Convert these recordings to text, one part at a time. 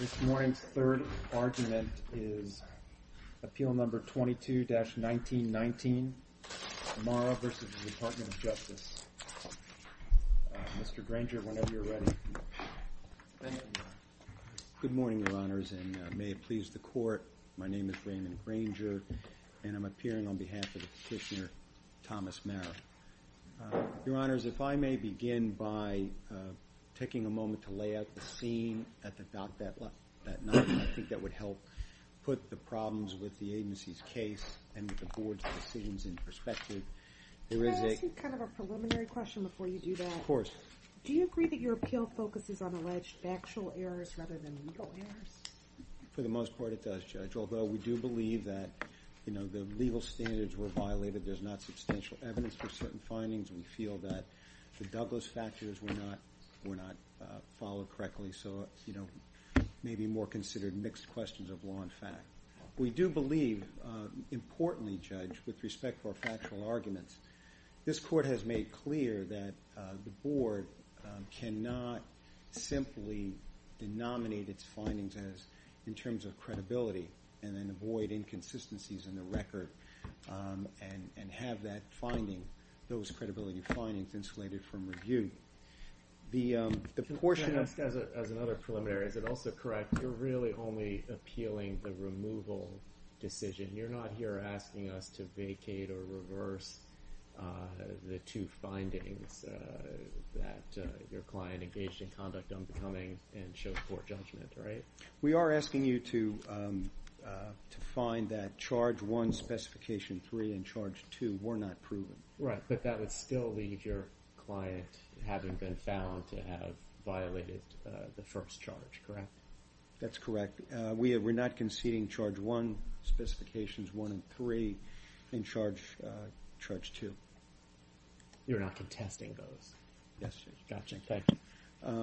This morning's third argument is Appeal No. 22-1919, Amara v. Department of Justice. Mr. Granger, whenever you're ready. Good morning, Your Honors, and may it please the Court. My name is Raymond Granger, and I'm appearing on behalf of Petitioner Thomas Marra. Your Honors, if I may begin by taking a moment to lay out the scene at the dock that night. I think that would help put the problems with the agency's case and with the Board's decisions in perspective. Can I ask you kind of a preliminary question before you do that? Of course. Do you agree that your appeal focuses on alleged factual errors rather than legal errors? For the most part it does, Judge, although we do believe that, you know, the legal standards were violated. There's not substantial evidence for certain findings. We feel that the Douglas factors were not followed correctly. So, you know, maybe more considered mixed questions of law and fact. We do believe, importantly, Judge, with respect for factual arguments, this Court has made clear that the Board cannot simply denominate its findings in terms of credibility and then avoid inconsistencies in the record and have that finding, those credibility findings, insulated from review. Can I ask, as another preliminary, is it also correct, you're really only appealing the removal decision? You're not here asking us to vacate or reverse the two findings that your client engaged in conduct unbecoming and showed poor judgment, right? We are asking you to find that Charge 1, Specification 3 and Charge 2 were not proven. Right, but that would still leave your client having been found to have violated the first charge, correct? That's correct. We're not conceding Charge 1, Specifications 1 and 3 and Charge 2. You're not contesting those? Yes, Judge. Got you. Thank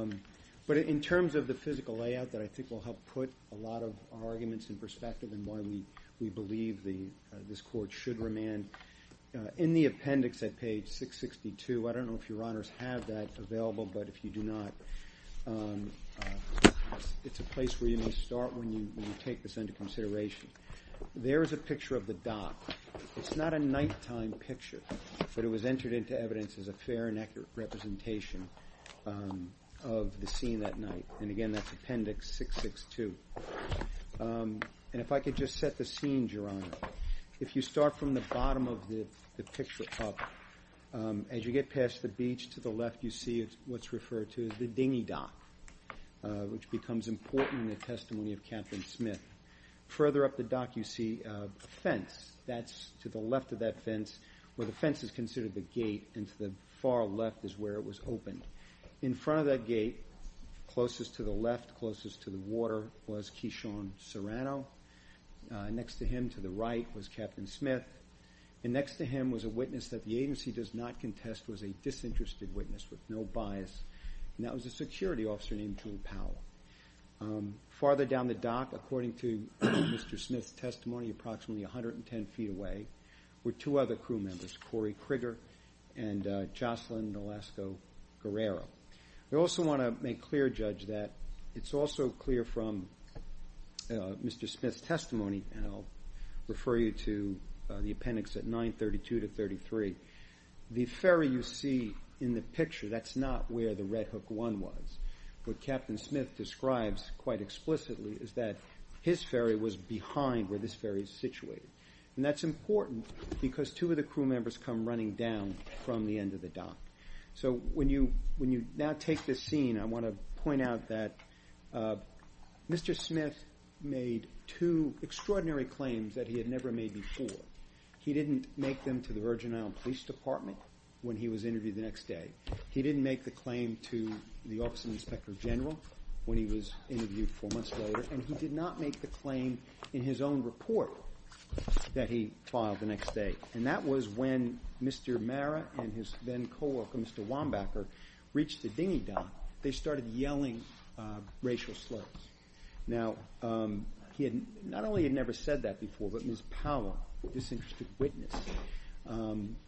you. But in terms of the physical layout that I think will help put a lot of arguments in perspective and why we believe this Court should remand, in the appendix at page 662, I don't know if your Honors have that available, but if you do not, it's a place where you may start when you take this into consideration. There is a picture of the dock. It's not a nighttime picture, but it was entered into evidence as a fair and accurate representation of the scene that night. And, again, that's Appendix 662. And if I could just set the scene, Your Honor. If you start from the bottom of the picture cup, as you get past the beach to the left, you see what's referred to as the dinghy dock, which becomes important in the testimony of Captain Smith. Further up the dock you see a fence. That's to the left of that fence, where the fence is considered the gate, and to the far left is where it was opened. In front of that gate, closest to the left, closest to the water, was Keyshawn Serrano. Next to him, to the right, was Captain Smith. And next to him was a witness that the agency does not contest was a disinterested witness with no bias, and that was a security officer named Drew Powell. Farther down the dock, according to Mr. Smith's testimony, approximately 110 feet away, were two other crew members, Corey Kriger and Jocelyn Nolasco-Guerrero. I also want to make clear, Judge, that it's also clear from Mr. Smith's testimony, and I'll refer you to the appendix at 932-33. The ferry you see in the picture, that's not where the Red Hook One was. What Captain Smith describes quite explicitly is that his ferry was behind where this ferry is situated. And that's important because two of the crew members come running down from the end of the dock. So when you now take this scene, I want to point out that Mr. Smith made two extraordinary claims that he had never made before. He didn't make them to the Virgin Islands Police Department when he was interviewed the next day. He didn't make the claim to the Office of the Inspector General when he was interviewed four months later. And he did not make the claim in his own report that he filed the next day. And that was when Mr. Marra and his then co-worker, Mr. Wambacher, reached the dinghy dock. They started yelling racial slurs. Now, he had not only never said that before, but Ms. Powell, a disinterested witness,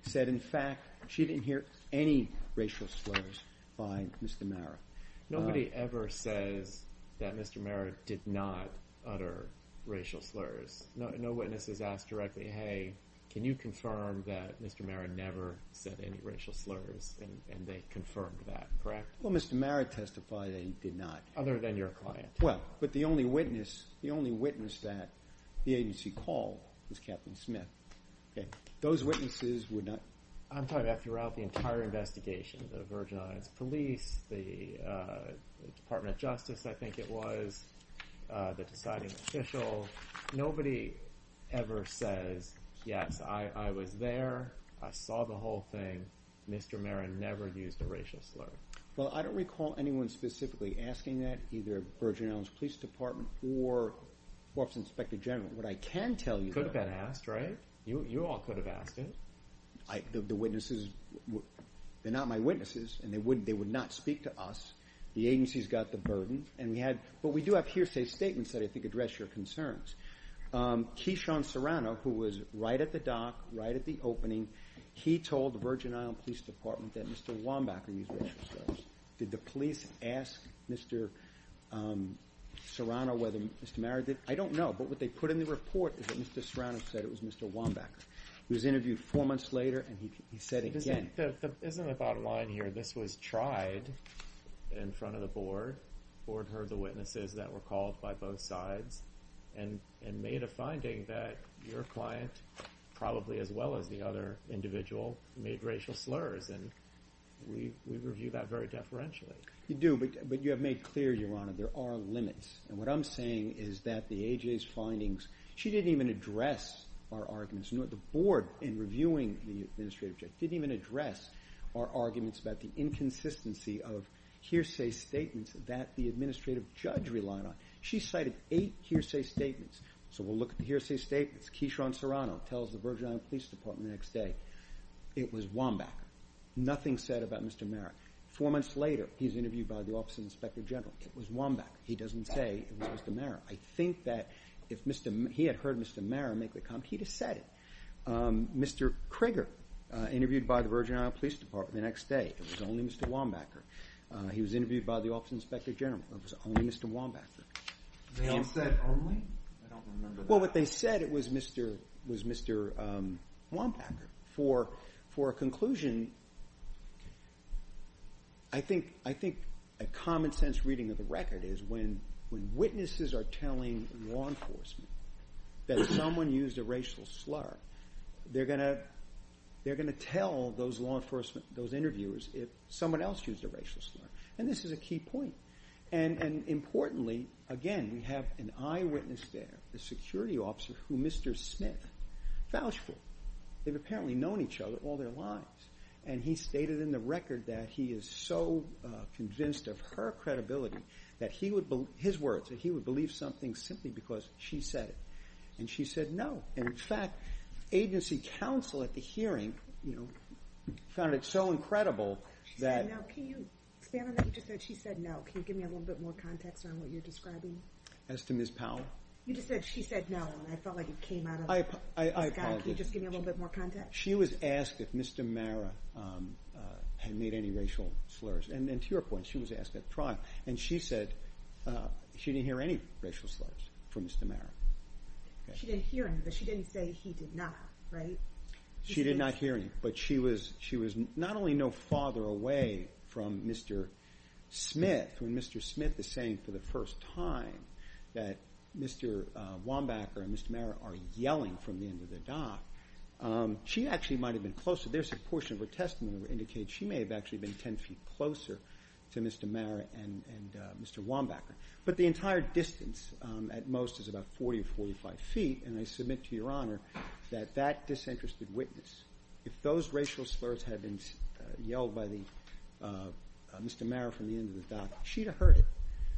said, in fact, she didn't hear any racial slurs by Mr. Marra. Nobody ever says that Mr. Marra did not utter racial slurs. No witness has asked directly, hey, can you confirm that Mr. Marra never said any racial slurs, and they confirmed that, correct? Well, Mr. Marra testified that he did not. Other than your client. Well, but the only witness that the agency called was Captain Smith. Okay. Those witnesses would not? I'm talking about throughout the entire investigation. The Virgin Islands Police, the Department of Justice, I think it was, the deciding official. Nobody ever says, yes, I was there. I saw the whole thing. Mr. Marra never used a racial slur. Well, I don't recall anyone specifically asking that, either Virgin Islands Police Department or Office of the Inspector General. Could have been asked, right? You all could have asked it. The witnesses, they're not my witnesses, and they would not speak to us. The agency's got the burden. But we do have hearsay statements that I think address your concerns. Keyshawn Serrano, who was right at the dock, right at the opening, he told the Virgin Islands Police Department that Mr. Wambacher used racial slurs. Did the police ask Mr. Serrano whether Mr. Marra did? I don't know, but what they put in the report is that Mr. Serrano said it was Mr. Wambacher. He was interviewed four months later, and he said again. Isn't the bottom line here, this was tried in front of the board? The board heard the witnesses that were called by both sides and made a finding that your client, probably as well as the other individual, made racial slurs. And we review that very deferentially. You do, but you have made clear, Your Honor, there are limits. And what I'm saying is that the A.J.'s findings, she didn't even address our arguments. The board, in reviewing the administrative judge, didn't even address our arguments about the inconsistency of hearsay statements that the administrative judge relied on. She cited eight hearsay statements. So we'll look at the hearsay statements. Keyshawn Serrano tells the Virgin Islands Police Department the next day it was Wambacher. Nothing said about Mr. Marra. Four months later, he's interviewed by the Office of the Inspector General. It was Wambacher. He doesn't say it was Mr. Marra. I think that if he had heard Mr. Marra make the comment, he'd have said it. Mr. Krieger, interviewed by the Virgin Islands Police Department the next day, it was only Mr. Wambacher. He was interviewed by the Office of the Inspector General. It was only Mr. Wambacher. They all said only? I don't remember that. Well, what they said was Mr. Wambacher. For a conclusion, I think a common-sense reading of the record is when witnesses are telling law enforcement that someone used a racial slur, they're going to tell those law enforcement, those interviewers, if someone else used a racial slur. And this is a key point. And importantly, again, we have an eyewitness there, a security officer, who Mr. Smith vouched for. They've apparently known each other all their lives. And he stated in the record that he is so convinced of her credibility that his words, that he would believe something simply because she said it. And she said no. And, in fact, agency counsel at the hearing found it so incredible that— She said no. Can you expand on that? You just said she said no. Can you give me a little bit more context on what you're describing? As to Ms. Powell? You just said she said no, and I felt like it came out of the sky. I apologize. Can you just give me a little bit more context? She was asked if Mr. Mara had made any racial slurs. And to your point, she was asked at trial. And she said she didn't hear any racial slurs from Mr. Mara. She didn't hear any, but she didn't say he did not, right? She did not hear any. But she was not only no farther away from Mr. Smith, when Mr. Smith is saying for the first time that Mr. Wambacher and Mr. Mara are yelling from the end of the dock, she actually might have been closer. There's a portion of her testimony that indicates she may have actually been 10 feet closer to Mr. Mara and Mr. Wambacher. But the entire distance, at most, is about 40 or 45 feet. And I submit to Your Honor that that disinterested witness, if those racial slurs had been yelled by Mr. Mara from the end of the dock, she'd have heard it.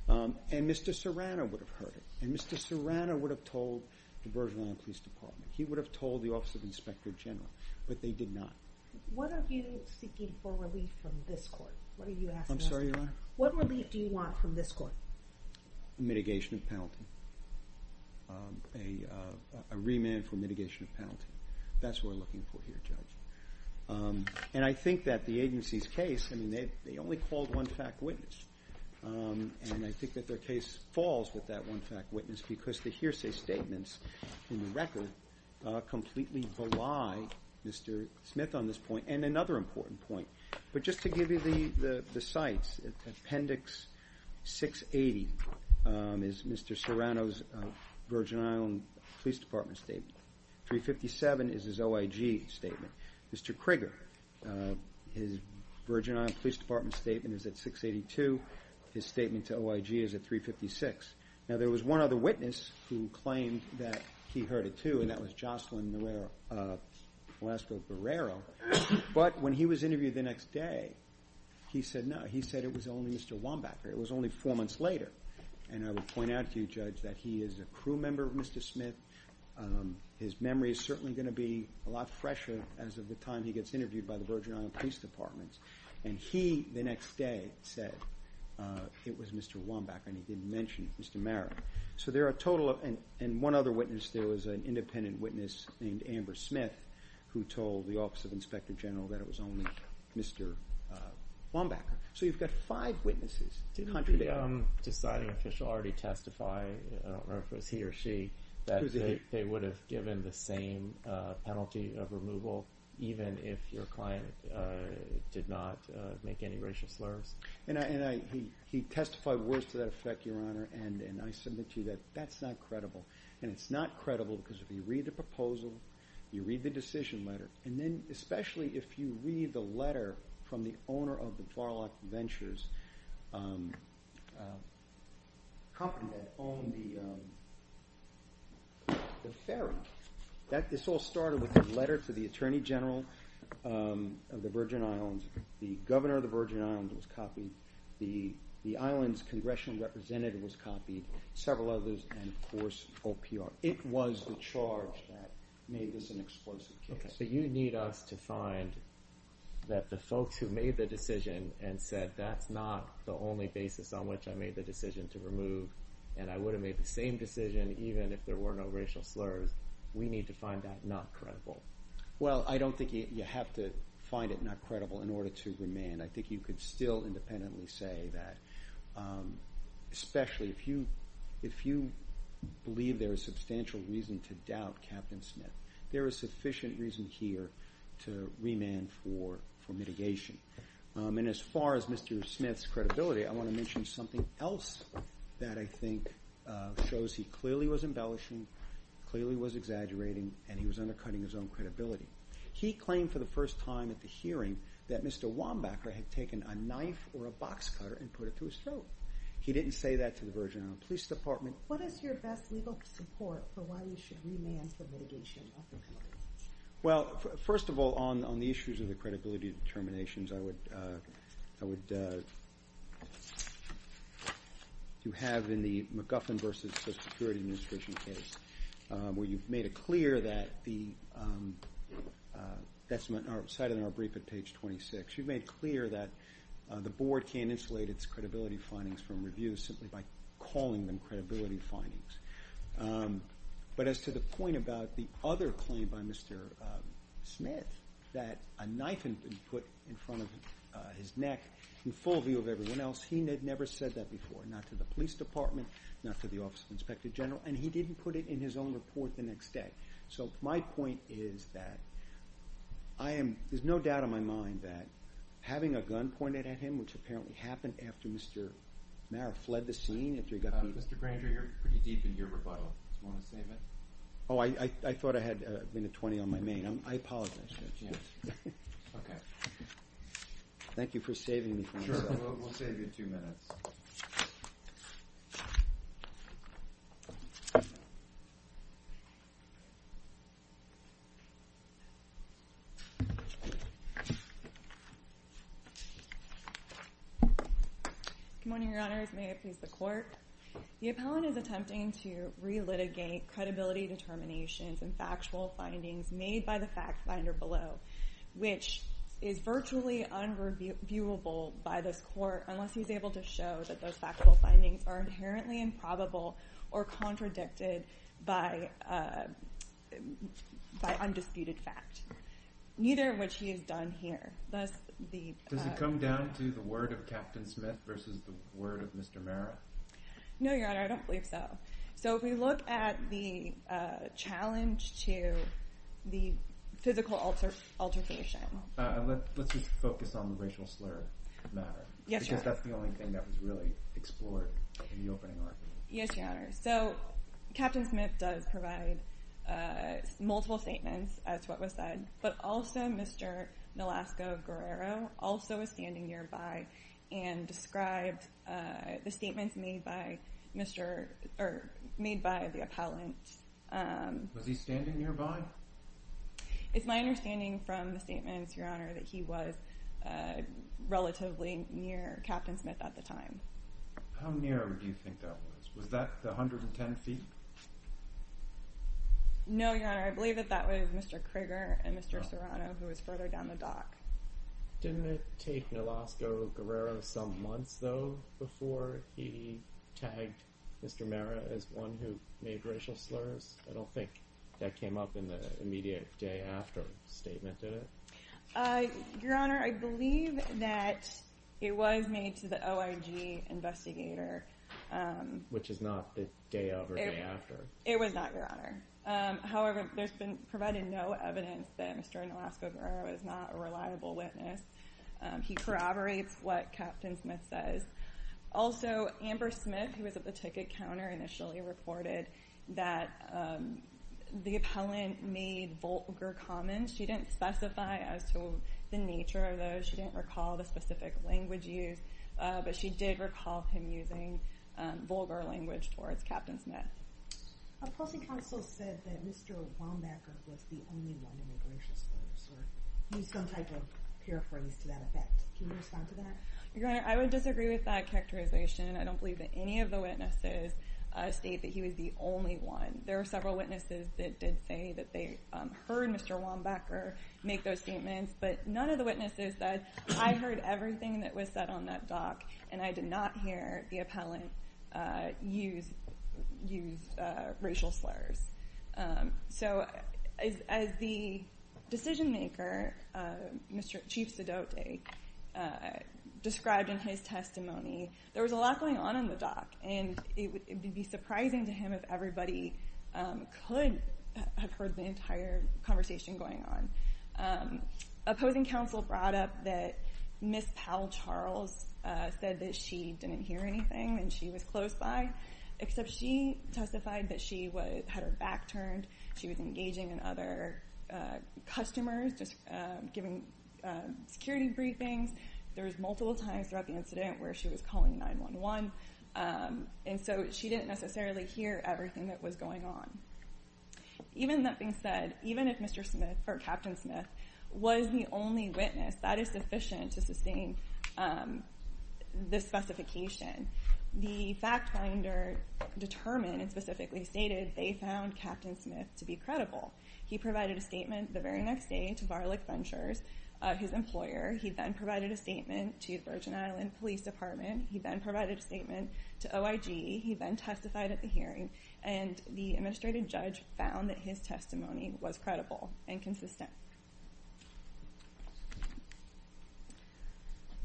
And Mr. Serrano would have heard it. And Mr. Serrano would have told the Virgin Island Police Department. He would have told the Office of Inspector General. But they did not. What are you seeking for relief from this court? I'm sorry, Your Honor? What relief do you want from this court? Mitigation of penalty. A remand for mitigation of penalty. That's what we're looking for here, Judge. And I think that the agency's case, I mean, they only called one fact witness. And I think that their case falls with that one fact witness because the hearsay statements in the record completely belie Mr. Smith on this point. And another important point, but just to give you the sites, Appendix 680 is Mr. Serrano's Virgin Island Police Department statement. 357 is his OIG statement. Mr. Krieger, his Virgin Island Police Department statement is at 682. His statement to OIG is at 356. Now, there was one other witness who claimed that he heard it too, and that was Jocelyn Barrero. But when he was interviewed the next day, he said no. He said it was only Mr. Wombacher. It was only four months later. And I would point out to you, Judge, that he is a crew member of Mr. Smith. His memory is certainly going to be a lot fresher as of the time he gets interviewed by the Virgin Island Police Department. And he, the next day, said it was Mr. Wombacher, and he didn't mention Mr. Marra. So there are a total of, and one other witness, there was an independent witness named Amber Smith who told the Office of Inspector General that it was only Mr. Wombacher. So you've got five witnesses. Did the deciding official already testify, I don't remember if it was he or she, that they would have given the same penalty of removal even if your client did not make any racial slurs? And he testified words to that effect, Your Honor, and I submit to you that that's not credible. And it's not credible because if you read the proposal, you read the decision letter, and then especially if you read the letter from the owner of the Farlock Ventures company that owned the ferry. This all started with a letter to the Attorney General of the Virgin Islands. The governor of the Virgin Islands was copied. The island's congressional representative was copied, several others, and, of course, OPR. It was the charge that made this an explosive case. So you need us to find that the folks who made the decision and said that's not the only basis on which I made the decision to remove and I would have made the same decision even if there were no racial slurs, we need to find that not credible. Well, I don't think you have to find it not credible in order to remand. I think you could still independently say that, especially if you believe there is substantial reason to doubt Captain Smith. There is sufficient reason here to remand for mitigation. And as far as Mr. Smith's credibility, I want to mention something else that I think shows he clearly was embellishing, clearly was exaggerating, and he was undercutting his own credibility. He claimed for the first time at the hearing that Mr. Wambacher had taken a knife or a box cutter and put it to his throat. He didn't say that to the Virgin Islands Police Department. What is your best legal support for why you should remand for mitigation of the penalty? Well, first of all, on the issues of the credibility determinations, I would have in the McGuffin v. Social Security Administration case where you've made it clear that the- that's cited in our brief at page 26. You've made it clear that the board can't insulate its credibility findings from reviews simply by calling them credibility findings. But as to the point about the other claim by Mr. Smith that a knife had been put in front of his neck in full view of everyone else, he never said that before, not to the police department, not to the Office of the Inspector General, and he didn't put it in his own report the next day. So my point is that I am- there's no doubt in my mind that having a gun pointed at him, which apparently happened after Mr. Marra fled the scene, after he got the- Mr. Granger, you're pretty deep in your rebuttal. Do you want to save it? Oh, I thought I had been at 20 on my main. I apologize. Okay. Thank you for saving me from myself. Sure, we'll save you two minutes. Good morning, Your Honors. May it please the Court. The appellant is attempting to relitigate credibility determinations and factual findings made by the fact finder below, which is virtually unreviewable by this Court unless he's able to show that those factual findings are inherently improbable or contradicted by undisputed fact, neither of which he has done here. Does it come down to the word of Captain Smith versus the word of Mr. Marra? No, Your Honor, I don't believe so. So if we look at the challenge to the physical altercation- Let's just focus on the racial slur matter. Yes, Your Honor. Because that's the only thing that was really explored in the opening argument. Yes, Your Honor. So Captain Smith does provide multiple statements as to what was said, but also Mr. Nolasco-Guerrero also was standing nearby and described the statements made by the appellant. Was he standing nearby? It's my understanding from the statements, Your Honor, that he was relatively near Captain Smith at the time. How near do you think that was? Was that 110 feet? No, Your Honor, I believe that that was Mr. Krieger and Mr. Serrano, who was further down the dock. Didn't it take Nolasco-Guerrero some months, though, before he tagged Mr. Marra as one who made racial slurs? I don't think that came up in the immediate day after the statement, did it? Your Honor, I believe that it was made to the OIG investigator. Which is not the day of or day after. It was not, Your Honor. However, there's been provided no evidence that Mr. Nolasco-Guerrero is not a reliable witness. He corroborates what Captain Smith says. Also, Amber Smith, who was at the ticket counter initially, reported that the appellant made vulgar comments. She didn't specify as to the nature of those. She didn't recall the specific language used, but she did recall him using vulgar language towards Captain Smith. A policy counsel said that Mr. Wambacher was the only one who made racial slurs, or used some type of paraphrase to that effect. Can you respond to that? Your Honor, I would disagree with that characterization. I don't believe that any of the witnesses state that he was the only one. There were several witnesses that did say that they heard Mr. Wambacher make those statements, but none of the witnesses said, I heard everything that was said on that dock, and I did not hear the appellant use racial slurs. So as the decision-maker, Chief Sedote, described in his testimony, there was a lot going on on the dock, and it would be surprising to him if everybody could have heard the entire conversation going on. A posing counsel brought up that Ms. Powell Charles said that she didn't hear anything and she was close by, except she testified that she had her back turned, she was engaging in other customers, giving security briefings. There was multiple times throughout the incident where she was calling 911, and so she didn't necessarily hear everything that was going on. Even that being said, even if Mr. Smith, or Captain Smith, was the only witness, that is sufficient to sustain this specification. The fact-finder determined and specifically stated they found Captain Smith to be credible. He provided a statement the very next day to Varlick Ventures, his employer. He then provided a statement to Virgin Island Police Department. He then provided a statement to OIG. He then testified at the hearing, and the administrative judge found that his testimony was credible and consistent.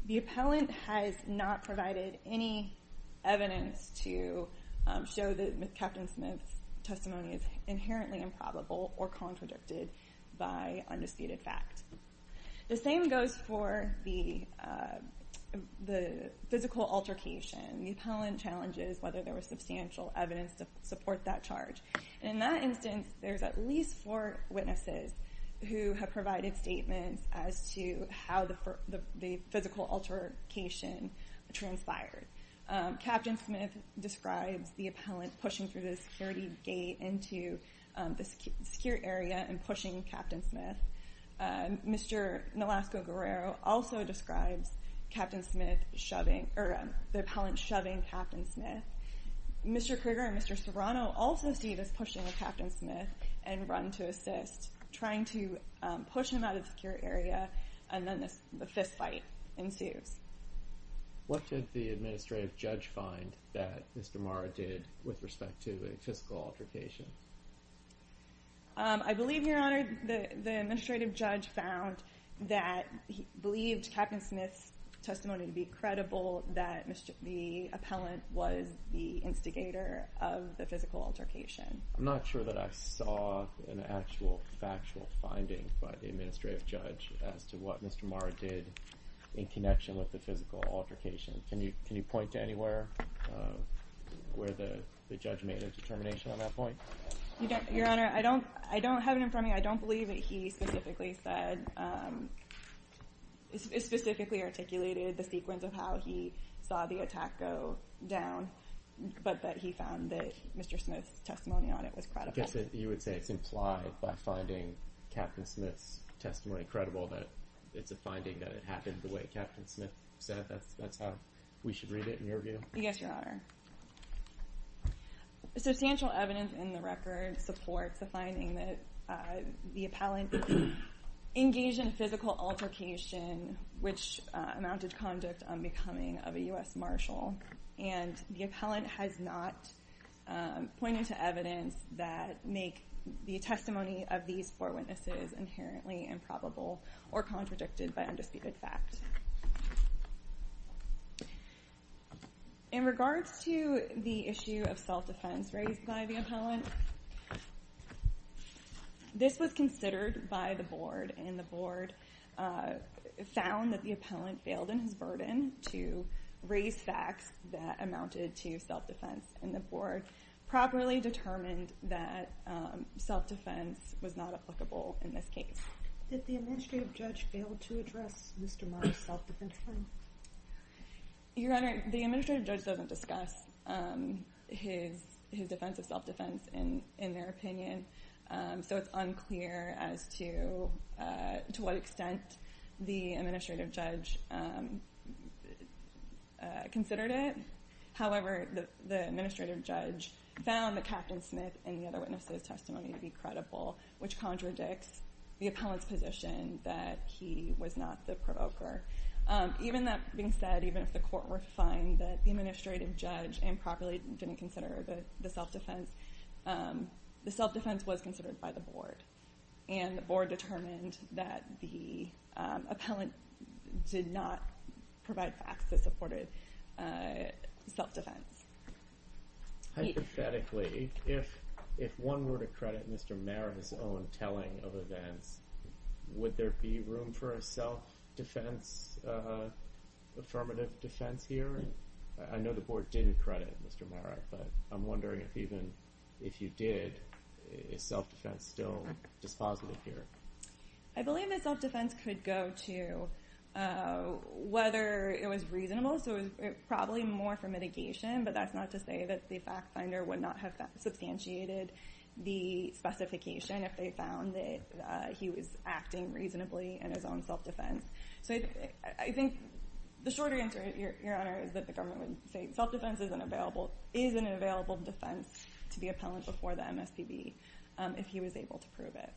The appellant has not provided any evidence to show that Captain Smith's testimony is inherently improbable or contradicted by undisputed fact. The same goes for the physical altercation. The appellant challenges whether there was substantial evidence to support that charge. In that instance, there's at least four witnesses who have provided statements as to how the physical altercation transpired. Captain Smith describes the appellant pushing through the security gate into the secure area and pushing Captain Smith. Mr. Nolasco-Guerrero also describes the appellant shoving Captain Smith. Mr. Krieger and Mr. Serrano also see this pushing of Captain Smith and run to assist, trying to push him out of the secure area, and then the fistfight ensues. What did the administrative judge find that Mr. Marra did with respect to the physical altercation? I believe, Your Honor, the administrative judge found that he believed Captain Smith's testimony to be credible, that the appellant was the instigator of the physical altercation. I'm not sure that I saw an actual factual finding by the administrative judge as to what Mr. Marra did in connection with the physical altercation. Can you point to anywhere where the judge made a determination on that point? Your Honor, I don't have it in front of me. I don't believe that he specifically said, specifically articulated the sequence of how he saw the attack go down, but that he found that Mr. Smith's testimony on it was credible. You would say it's implied by finding Captain Smith's testimony credible that it's a finding that it happened the way Captain Smith said? That's how we should read it in your view? Yes, Your Honor. Substantial evidence in the record supports the finding that the appellant engaged in a physical altercation which amounted to conduct unbecoming of a U.S. Marshal, and the appellant has not pointed to evidence that make the testimony of these four witnesses inherently improbable or contradicted by undisputed fact. In regards to the issue of self-defense raised by the appellant, this was considered by the board, and the board found that the appellant failed in his burden to raise facts that amounted to self-defense, and the board properly determined that self-defense was not applicable in this case. Did the administrative judge fail to address Mr. Mars' self-defense claim? Your Honor, the administrative judge doesn't discuss his defense of self-defense in their opinion, so it's unclear as to what extent the administrative judge considered it. However, the administrative judge found that Captain Smith and the other witnesses' testimony to be credible, which contradicts the appellant's position that he was not the provoker. Even that being said, even if the court were to find that the administrative judge improperly didn't consider the self-defense, the self-defense was considered by the board, and the board determined that the appellant did not provide facts that supported self-defense. Hypothetically, if one were to credit Mr. Mara's own telling of events, would there be room for a self-defense, affirmative defense here? I know the board didn't credit Mr. Mara, but I'm wondering if even if you did, is self-defense still dispositive here? I believe that self-defense could go to whether it was reasonable, so it was probably more for mitigation, but that's not to say that the fact finder would not have substantiated the specification if they found that he was acting reasonably in his own self-defense. So I think the shorter answer, Your Honor, is that the government would say self-defense is an available defense to the appellant before the MSPB if he was able to prove it.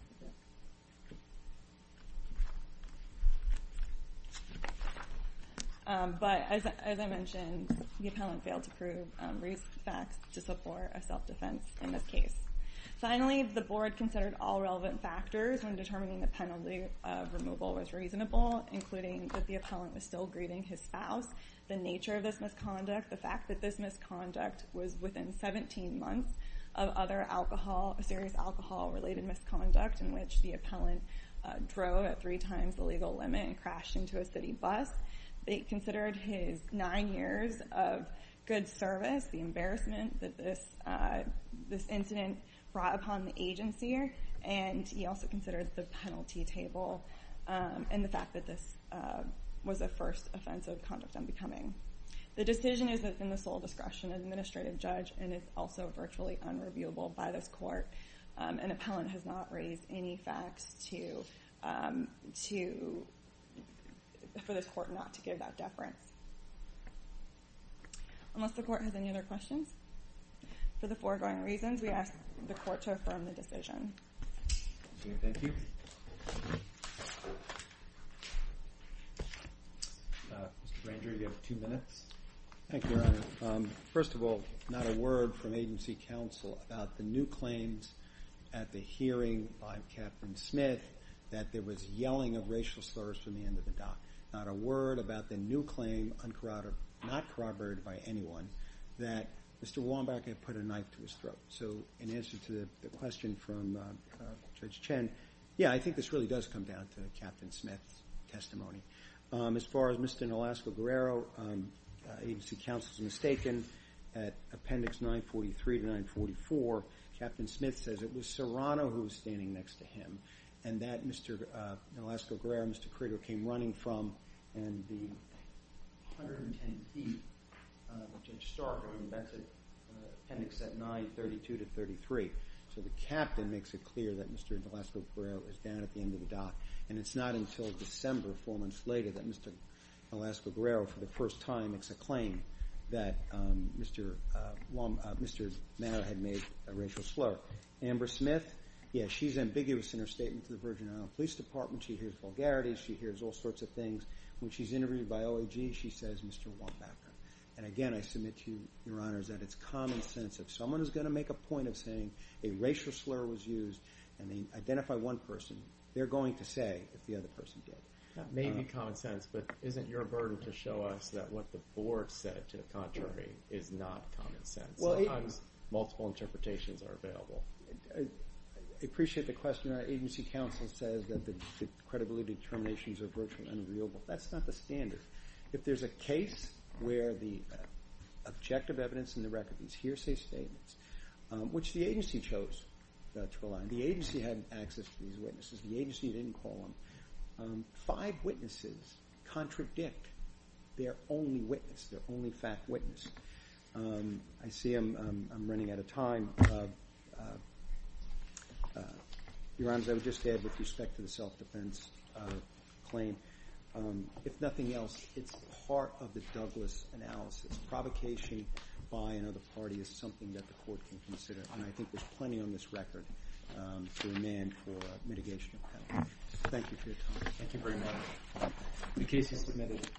But as I mentioned, the appellant failed to prove facts to support a self-defense in this case. Finally, the board considered all relevant factors when determining the penalty of removal was reasonable, including that the appellant was still greeting his spouse, the nature of this misconduct, the fact that this misconduct was within 17 months of other serious alcohol-related misconduct in which the appellant drove at three times the legal limit and crashed into a city bus. They considered his nine years of good service, the embarrassment that this incident brought upon the agency, and he also considered the penalty table and the fact that this was the first offense of conduct unbecoming. The decision is within the sole discretion of the administrative judge, and it's also virtually unreviewable by this court. An appellant has not raised any facts for the court not to give that deference. Unless the court has any other questions for the foregoing reasons, we ask the court to affirm the decision. Thank you. Mr. Granger, you have two minutes. Thank you, Your Honor. First of all, not a word from agency counsel about the new claims at the hearing by Captain Smith that there was yelling of racial slurs from the end of the dock. Not a word about the new claim not corroborated by anyone that Mr. Wambach had put a knife to his throat. So in answer to the question from Judge Chen, yeah, I think this really does come down to Captain Smith's testimony. As far as Mr. Nolasco-Guerrero, agency counsel is mistaken. At Appendix 943 to 944, Captain Smith says it was Serrano who was standing next to him, and that Mr. Nolasco-Guerrero, Mr. Critter, came running from, and the 110 feet that Judge Stark had invented in Appendix 932 to 933. So the captain makes it clear that Mr. Nolasco-Guerrero is down at the end of the dock, and it's not until December, four months later, that Mr. Nolasco-Guerrero, for the first time, makes a claim that Mr. Manor had made a racial slur. Amber Smith, yeah, she's ambiguous in her statement to the Virginia Police Department. She hears vulgarities. She hears all sorts of things. When she's interviewed by OAG, she says Mr. Wambach. And again, I submit to you, Your Honors, that it's common sense. If someone is going to make a point of saying a racial slur was used and they identify one person, they're going to say if the other person did. That may be common sense, but isn't your burden to show us that what the board said to the contrary is not common sense? Multiple interpretations are available. I appreciate the question. Our agency counsel says that the credibility determinations are virtually unagreeable. That's not the standard. If there's a case where the objective evidence in the record, these hearsay statements, which the agency chose to rely on. The agency had access to these witnesses. The agency didn't call them. Five witnesses contradict their only witness, their only fact witness. I see I'm running out of time. Your Honors, I would just add with respect to the self-defense claim, if nothing else, it's part of the Douglas analysis. Provocation by another party is something that the court can consider, and I think there's plenty on this record to amend for mitigation of penalty. Thank you for your time. Thank you very much. The case is submitted.